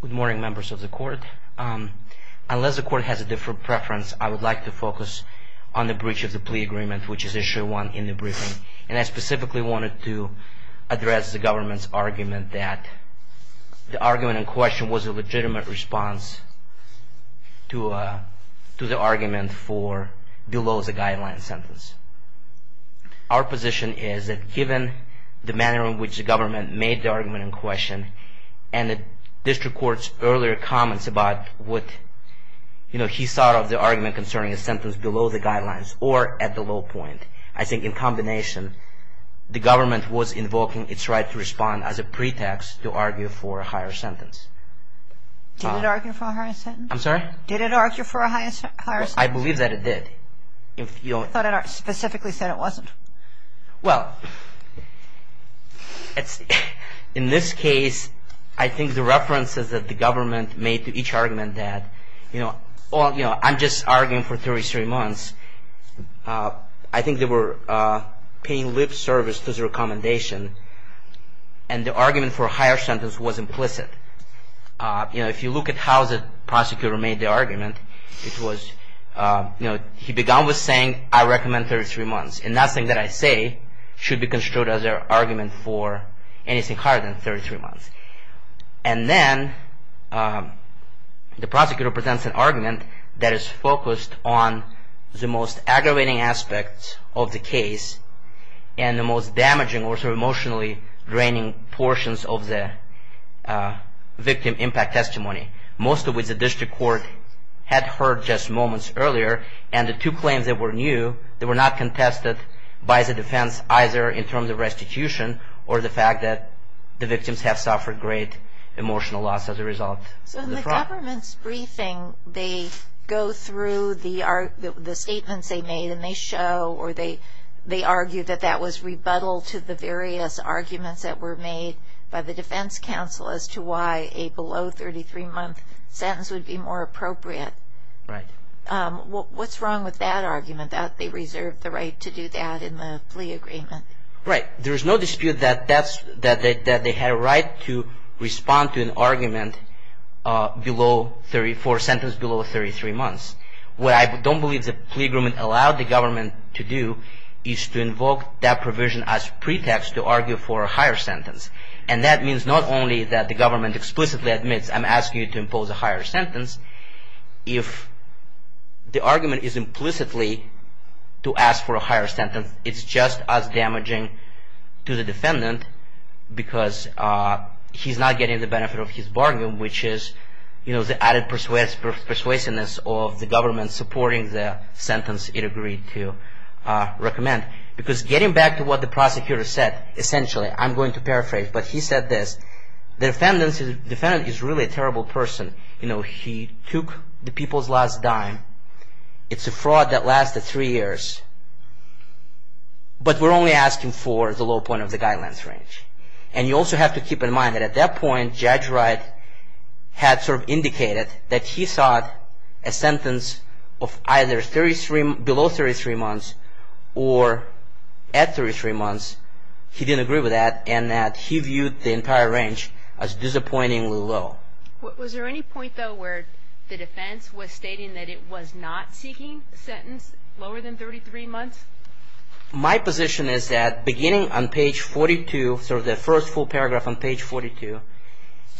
Good morning members of the court. Unless the court has a different preference, I would like to focus on the breach of the plea agreement, which is issue one in the briefing. And I specifically wanted to address the government's argument that the argument in question was a legitimate response to the argument for below the guideline sentence. Our position is that given the manner in which the government made the argument in question, and the district court's earlier comments about what he thought of the argument concerning a sentence below the guidelines or at the low point, I think in combination the government was invoking its right to respond as a pretext to argue for a higher sentence. Did it argue for a higher sentence? I'm sorry? Did it argue for a higher sentence? I believe that it did. I thought it specifically said it wasn't. Well, in this case, I think the references that the government made to each argument that, you know, I'm just arguing for 33 months. I think they were paying lip service to the recommendation, and the argument for a higher sentence was implicit. You know, if you look at how the prosecutor made the argument, it was, you know, he began with saying, I recommend 33 months. And nothing that I say should be construed as an argument for anything higher than 33 months. And then the prosecutor presents an argument that is focused on the most aggravating aspects of the case, and the most damaging or emotionally draining portions of the victim impact testimony. Most of which the district court had heard just moments earlier, and the two claims that were new, they were not contested by the defense, either in terms of restitution or the fact that the victims have suffered great emotional loss as a result. So in the government's briefing, they go through the statements they made, and they show or they argue that that was rebuttal to the various arguments that were made by the defense counsel as to why a below 33-month sentence would be more appropriate. Right. What's wrong with that argument, that they reserved the right to do that in the plea agreement? Right. There is no dispute that they had a right to respond to an argument for a sentence below 33 months. What I don't believe the plea agreement allowed the government to do is to invoke that provision as pretext to argue for a higher sentence. And that means not only that the government explicitly admits, I'm asking you to impose a higher sentence. If the argument is implicitly to ask for a higher sentence, it's just as damaging to the defendant because he's not getting the benefit of his bargain, which is the added persuasiveness of the government supporting the sentence it agreed to recommend. Because getting back to what the prosecutor said, essentially, I'm going to paraphrase. But he said this, the defendant is really a terrible person. He took the people's last dime. It's a fraud that lasted three years. But we're only asking for the low point of the guidelines range. And you also have to keep in mind that at that point, Judge Wright had sort of indicated that he sought a sentence of either below 33 months or at 33 months. He didn't agree with that and that he viewed the entire range as disappointingly low. Was there any point, though, where the defense was stating that it was not seeking a sentence lower than 33 months? My position is that beginning on page 42, the first full paragraph on page 42,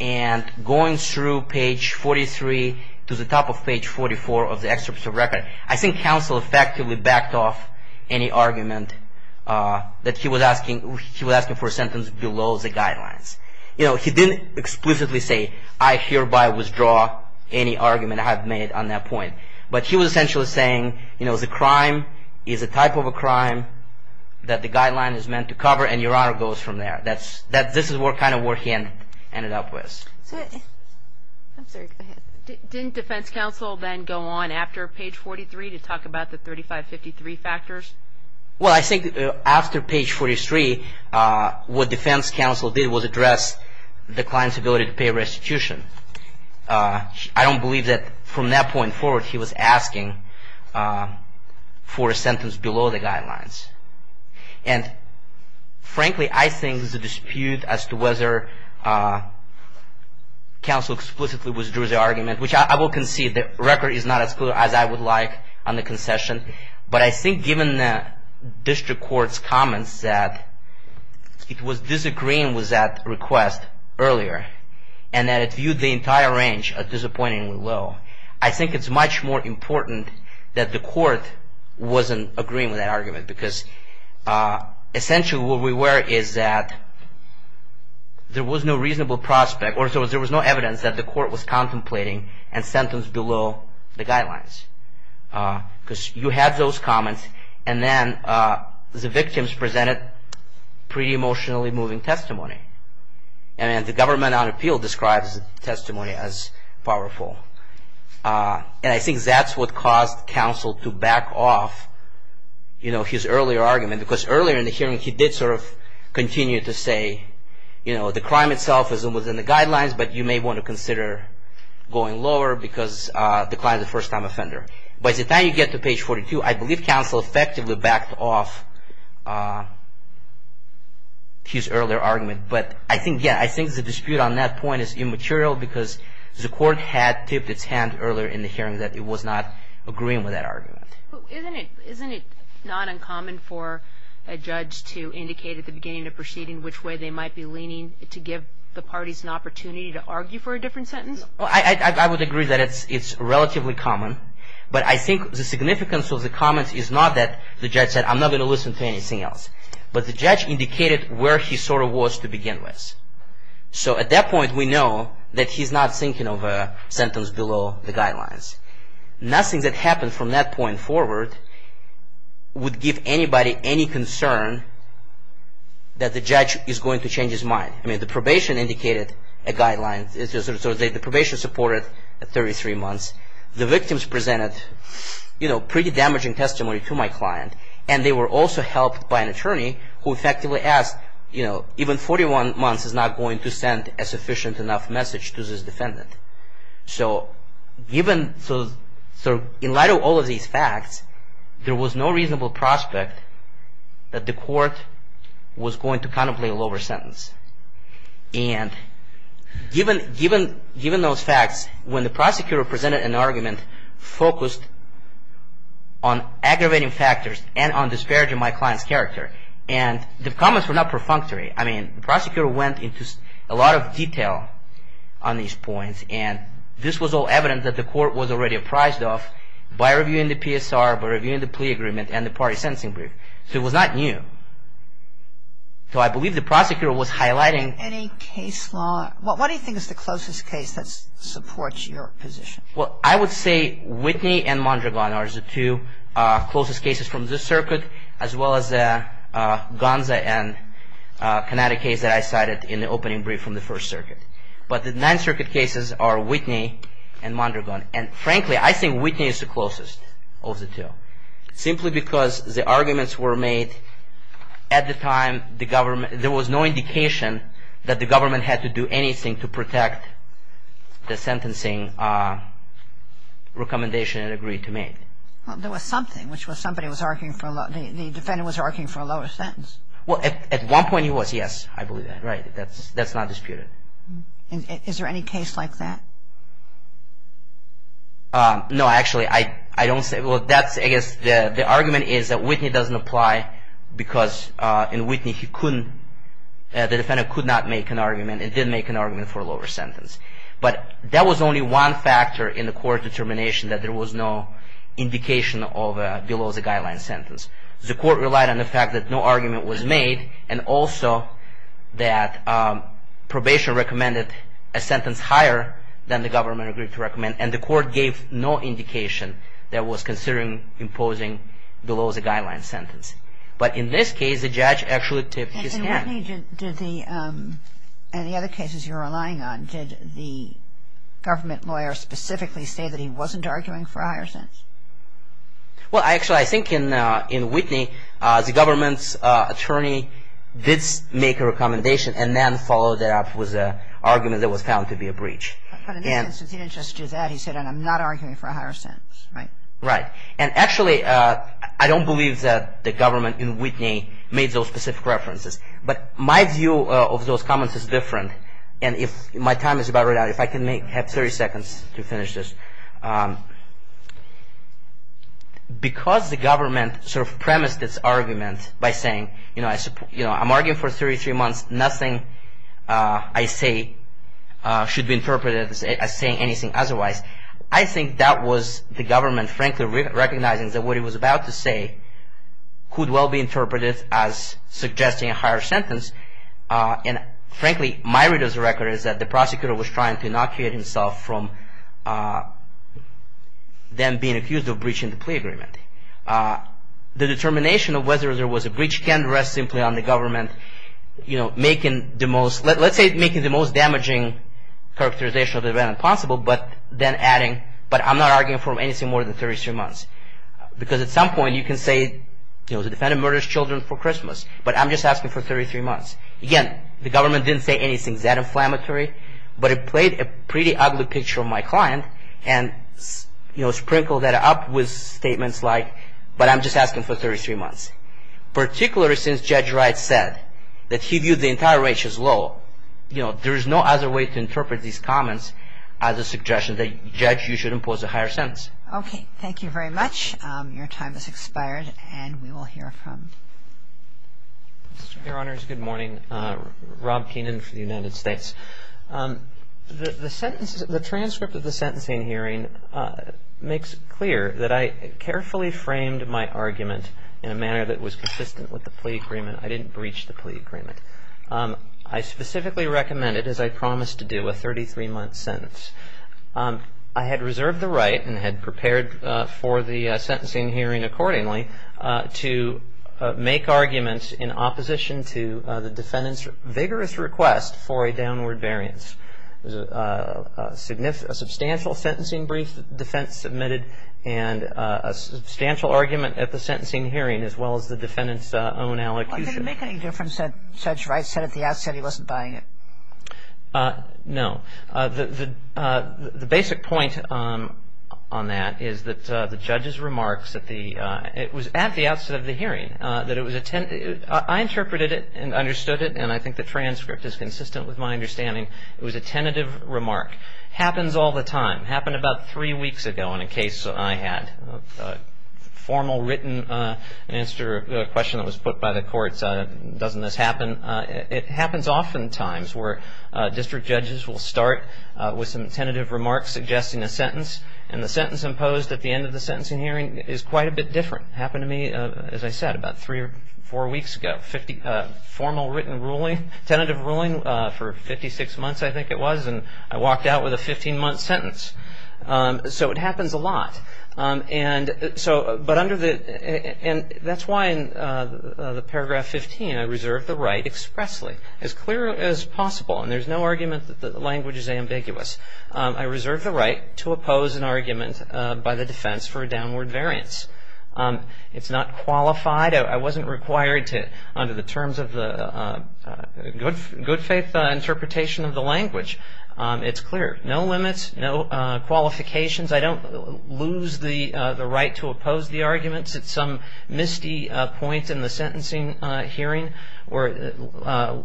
and going through page 43 to the top of page 44 of the excerpt of the record, I think counsel effectively backed off any argument that he was asking for a sentence below the guidelines. He didn't explicitly say, I hereby withdraw any argument I have made on that point. But he was essentially saying, you know, the crime is a type of a crime that the guideline is meant to cover and Your Honor goes from there. This is kind of what he ended up with. Didn't defense counsel then go on after page 43 to talk about the 3553 factors? Well, I think after page 43, what defense counsel did was address the client's ability to pay restitution. I don't believe that from that point forward he was asking for a sentence below the guidelines. And frankly, I think there's a dispute as to whether counsel explicitly withdrew the argument, which I will concede. The record is not as clear as I would like on the concession. But I think given the district court's comments that it was disagreeing with that request earlier, and that it viewed the entire range as disappointingly low, I think it's much more important that the court wasn't agreeing with that argument. Because essentially what we were is that there was no reasonable prospect, or in other words, there was no evidence that the court was contemplating a sentence below the guidelines. Because you had those comments and then the victims presented pretty emotionally moving testimony. And the government on appeal describes the testimony as powerful. And I think that's what caused counsel to back off his earlier argument. Because earlier in the hearing he did sort of continue to say, you know, the crime itself is within the guidelines, but you may want to consider going lower because the client is a first-time offender. By the time you get to page 42, I believe counsel effectively backed off his earlier argument. But I think, yeah, I think the dispute on that point is immaterial because the court had tipped its hand earlier in the hearing that it was not agreeing with that argument. Isn't it not uncommon for a judge to indicate at the beginning of the proceeding which way they might be leaning to give the parties an opportunity to argue for a different sentence? I would agree that it's relatively common. But I think the significance of the comments is not that the judge said, I'm not going to listen to anything else. But the judge indicated where he sort of was to begin with. So at that point we know that he's not thinking of a sentence below the guidelines. Nothing that happened from that point forward would give anybody any concern that the judge is going to change his mind. The probation indicated a guideline. The probation supported 33 months. The victims presented pretty damaging testimony to my client. And they were also helped by an attorney who effectively asked, even 41 months is not going to send a sufficient enough message to this defendant. So in light of all of these facts, there was no reasonable prospect that the court was going to contemplate a lower sentence. And given those facts, when the prosecutor presented an argument focused on aggravating factors and on disparaging my client's character, and the comments were not perfunctory. I mean, the prosecutor went into a lot of detail on these points. And this was all evidence that the court was already apprised of by reviewing the PSR, by reviewing the plea agreement and the party sentencing brief. So it was not new. So I believe the prosecutor was highlighting. Any case law? What do you think is the closest case that supports your position? Well, I would say Whitney and Mondragon are the two closest cases from this circuit, as well as the Gonza and Connecticut case that I cited in the opening brief from the First Circuit. But the Ninth Circuit cases are Whitney and Mondragon. And frankly, I think Whitney is the closest of the two. Simply because the arguments were made at the time the government, there was no indication that the government had to do anything to protect the sentencing recommendation it agreed to make. Well, there was something, which was somebody was arguing for a lower, the defendant was arguing for a lower sentence. Well, at one point he was, yes. I believe that, right. That's not disputed. Is there any case like that? No, actually. I don't say, well, that's, I guess, the argument is that Whitney doesn't apply because in Whitney he couldn't, the defendant could not make an argument and didn't make an argument for a lower sentence. But that was only one factor in the court determination that there was no indication of a below the guideline sentence. The court relied on the fact that no argument was made and also that probation recommended a sentence higher than the government agreed to recommend. And the court gave no indication that it was considering imposing below the guideline sentence. But in this case, the judge actually tipped his hand. In the other cases you're relying on, did the government lawyer specifically say that he wasn't arguing for a higher sentence? Well, actually, I think in Whitney the government's attorney did make a recommendation and then followed that up with an argument that was found to be a breach. But in this instance he didn't just do that. He said, and I'm not arguing for a higher sentence, right? Right. And actually, I don't believe that the government in Whitney made those specific references. But my view of those comments is different. And if my time is about run out, if I can have 30 seconds to finish this. Because the government sort of premised its argument by saying, I'm arguing for 33 months, nothing I say should be interpreted as saying anything otherwise. I think that was the government frankly recognizing that what it was about to say could well be interpreted as suggesting a higher sentence. And frankly, my read of the record is that the prosecutor was trying to inoculate himself from them being accused of breaching the plea agreement. The determination of whether there was a breach can rest simply on the government, you know, making the most, let's say making the most damaging characterization of the event possible. But then adding, but I'm not arguing for anything more than 33 months. Because at some point you can say, you know, the defendant murders children for Christmas. But I'm just asking for 33 months. Again, the government didn't say anything that inflammatory. But it played a pretty ugly picture on my client and, you know, sprinkled that up with statements like, but I'm just asking for 33 months. Particularly since Judge Wright said that he viewed the entire rate as low, you know, there is no other way to interpret these comments as a suggestion that, Judge, you should impose a higher sentence. Okay. Thank you very much. Your time has expired and we will hear from. Your Honors, good morning. Rob Keenan for the United States. The sentence, the transcript of the sentencing hearing makes it clear that I carefully framed my argument in a manner that was consistent with the plea agreement. I didn't breach the plea agreement. I specifically recommended, as I promised to do, a 33-month sentence. I had reserved the right and had prepared for the sentencing hearing accordingly to make arguments in opposition to the defendant's vigorous request for a downward variance. A substantial sentencing brief defense submitted and a substantial argument at the sentencing hearing as well as the defendant's own allocution. Did it make any difference that Judge Wright said at the outset he wasn't buying it? No. The basic point on that is that the judge's remarks at the, it was at the outset of the hearing that it was, I interpreted it and understood it and I think the transcript is consistent with my understanding. It was a tentative remark. Happens all the time. Happened about three weeks ago in a case I had. Formal written answer to a question that was put by the courts. Doesn't this happen? It happens oftentimes where district judges will start with some tentative remarks suggesting a sentence and the sentence imposed at the end of the sentencing hearing is quite a bit different. Happened to me, as I said, about three or four weeks ago. Formal written ruling, tentative ruling for 56 months I think it was and I walked out with a 15-month sentence. So it happens a lot. And so, but under the, and that's why in the paragraph 15 I reserved the right expressly, as clear as possible and there's no argument that the language is ambiguous. I reserved the right to oppose an argument by the defense for a downward variance. It's not qualified. I wasn't required to, under the terms of the good faith interpretation of the language, it's clear. No limits, no qualifications. I don't lose the right to oppose the arguments at some misty point in the sentencing hearing where it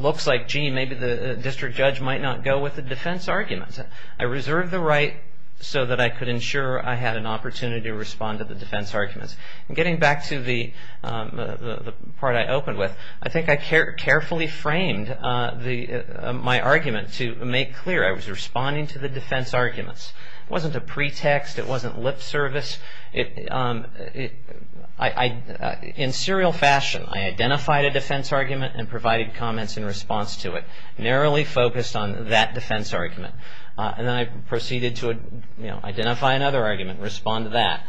looks like, gee, maybe the district judge might not go with the defense arguments. I reserved the right so that I could ensure I had an opportunity to respond to the defense arguments. And getting back to the part I opened with, I think I carefully framed my argument to make clear. I was responding to the defense arguments. It wasn't a pretext. It wasn't lip service. In serial fashion, I identified a defense argument and provided comments in response to it, narrowly focused on that defense argument. And then I proceeded to identify another argument and respond to that.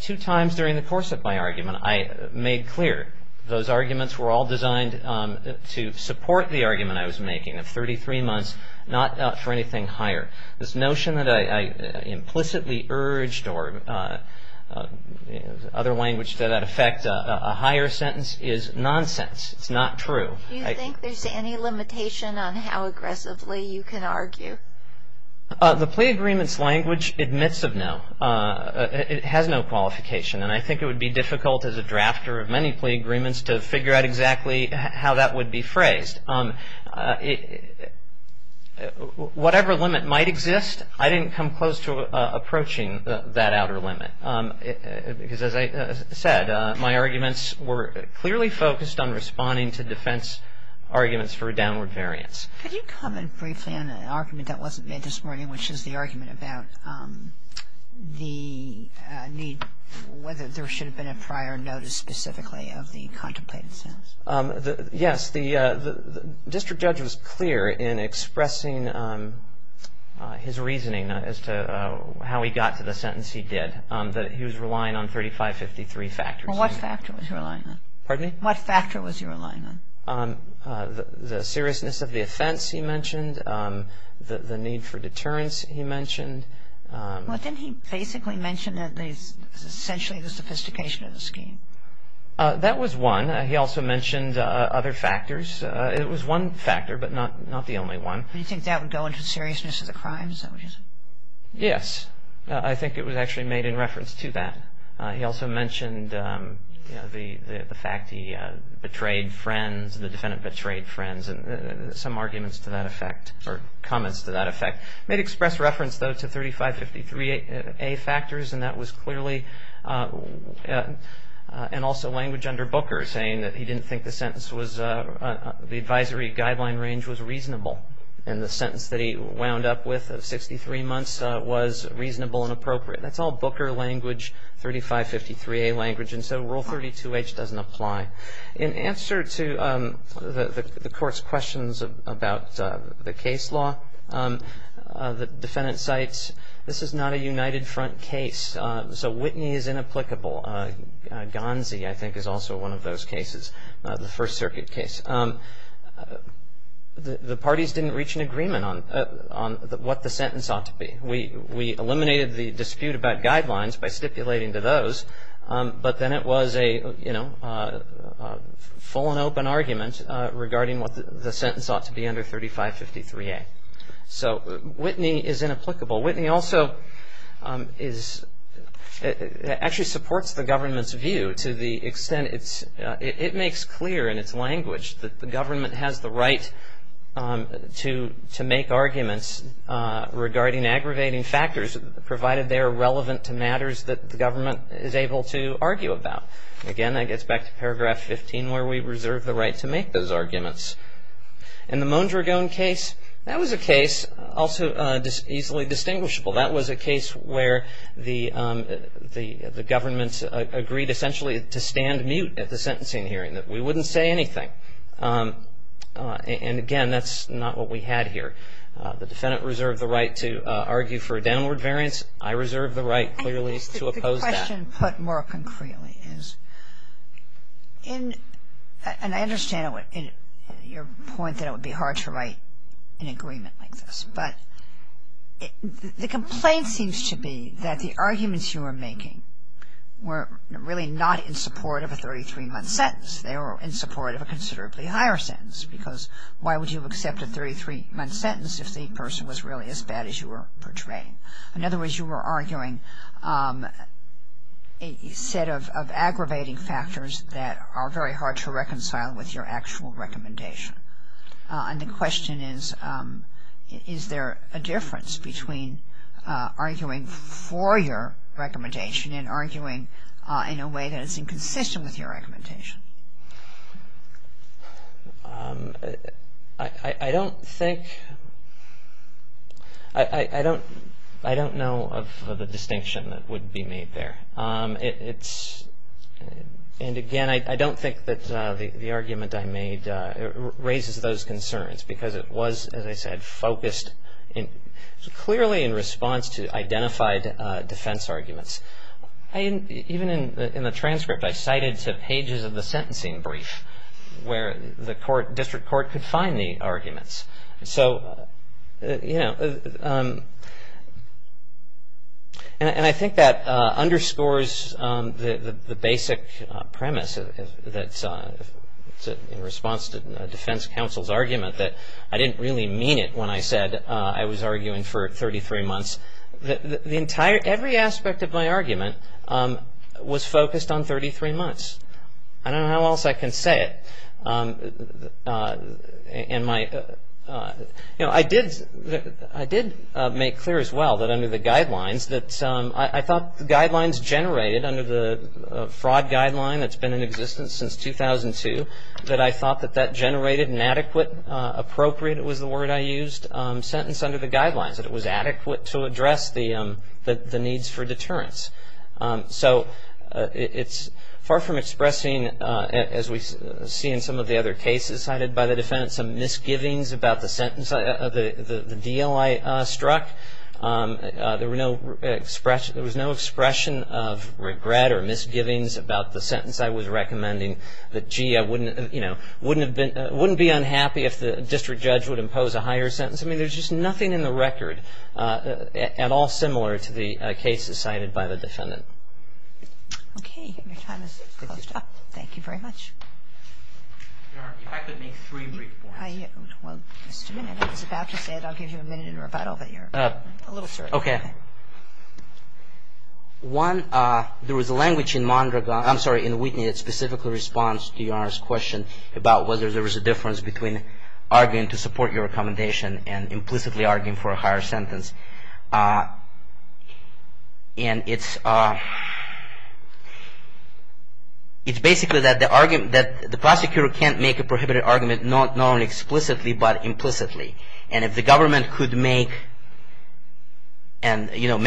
Two times during the course of my argument, I made clear those arguments were all designed to support the argument I was making of 33 months, not for anything higher. This notion that I implicitly urged or other language to that effect, a higher sentence is nonsense. It's not true. Do you think there's any limitation on how aggressively you can argue? The plea agreements language admits of no. It has no qualification. And I think it would be difficult as a drafter of many plea agreements to figure out exactly how that would be phrased. Whatever limit might exist, I didn't come close to approaching that outer limit. Because as I said, my arguments were clearly focused on responding to defense arguments for downward variance. Could you comment briefly on an argument that wasn't made this morning, which is the argument about the need, whether there should have been a prior notice specifically of the contemplated sentence? Yes. The district judge was clear in expressing his reasoning as to how he got to the sentence he did, that he was relying on 3553 factors. Well, what factor was he relying on? Pardon me? What factor was he relying on? The seriousness of the offense, he mentioned. The need for deterrence, he mentioned. Well, didn't he basically mention essentially the sophistication of the scheme? That was one. He also mentioned other factors. It was one factor, but not the only one. Do you think that would go into seriousness of the crimes? Yes. I think it was actually made in reference to that. He also mentioned the fact he betrayed friends, the defendant betrayed friends, and some arguments to that effect, or comments to that effect. Made express reference, though, to 3553A factors, and that was clearly, and also language under Booker saying that he didn't think the sentence was, the advisory guideline range was reasonable, and the sentence that he wound up with of 63 months was reasonable and appropriate. That's all Booker language, 3553A language, and so Rule 32H doesn't apply. In answer to the Court's questions about the case law, the defendant cites, this is not a united front case, so Whitney is inapplicable. Gansey, I think, is also one of those cases, the First Circuit case. The parties didn't reach an agreement on what the sentence ought to be. We eliminated the dispute about guidelines by stipulating to those, but then it was a full and open argument regarding what the sentence ought to be under 3553A. So Whitney is inapplicable. Whitney also is, actually supports the government's view to the extent it's, it makes clear in its language that the government has the right to make arguments regarding aggravating factors provided they are relevant to matters that the government is able to argue about. Again, that gets back to Paragraph 15 where we reserve the right to make those arguments. In the Mondragon case, that was a case also easily distinguishable. That was a case where the government agreed essentially to stand mute at the sentencing hearing, that we wouldn't say anything. And, again, that's not what we had here. The defendant reserved the right to argue for a downward variance. I reserve the right clearly to oppose that. The question put more concretely is, and I understand your point that it would be hard to write an agreement like this, but the complaint seems to be that the arguments you were making were really not in support of a 33-month sentence. They were in support of a considerably higher sentence because why would you accept a 33-month sentence if the person was really as bad as you were portraying? In other words, you were arguing a set of aggravating factors that are very hard to reconcile with your actual recommendation. And the question is, is there a difference between arguing for your recommendation and arguing in a way that is inconsistent with your recommendation? I don't think, I don't know of a distinction that would be made there. And, again, I don't think that the argument I made raises those concerns because it was, as I said, focused clearly in response to identified defense arguments. Even in the transcript, I cited pages of the sentencing brief where the district court could find the arguments. So, you know, and I think that underscores the basic premise that in response to defense counsel's argument that I didn't really mean it when I said I was arguing for 33 months. Every aspect of my argument was focused on 33 months. I don't know how else I can say it. And my, you know, I did make clear as well that under the guidelines, that I thought the guidelines generated under the fraud guideline that's been in existence since 2002, that I thought that that generated an adequate, appropriate was the word I used, sentence under the guidelines, that it was adequate to address the needs for deterrence. So it's far from expressing, as we see in some of the other cases cited by the defense, some misgivings about the sentence, the deal I struck. There was no expression of regret or misgivings about the sentence I was recommending, that, gee, I wouldn't, you know, wouldn't be unhappy if the district judge would impose a higher sentence. I mean, there's just nothing in the record at all similar to the cases cited by the defendant. Okay. Your time has closed up. Thank you very much. Your Honor, if I could make three brief points. Well, just a minute. I was about to say that I'll give you a minute in rebuttal, but you're a little short. Okay. One, there was a language in Mondragon, I'm sorry, in Whitney that specifically responds to Your Honor's question about whether there was a difference between arguing to support your recommendation and implicitly arguing for a higher sentence. And it's basically that the prosecutor can't make a prohibited argument not only explicitly, but implicitly. And if the government could make and, you know,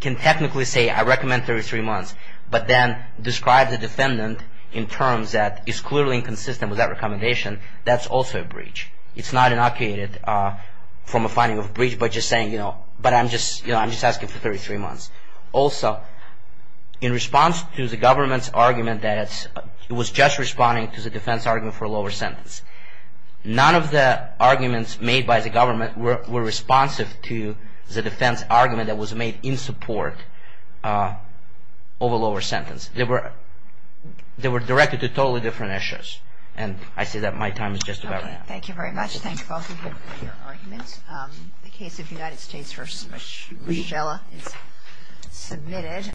can technically say, I recommend 33 months, but then describe the defendant in terms that is clearly inconsistent with that recommendation, that's also a breach. It's not inoculated from a finding of breach, but just saying, you know, but I'm just asking for 33 months. Also, in response to the government's argument that it was just responding to the defense argument for a lower sentence, none of the arguments made by the government were responsive to the defense argument that was made in support of a lower sentence. They were directed to totally different issues. And I say that my time is just about up. Thank you very much. Thank you both of you for your arguments. The case of United States v. Michelle is submitted.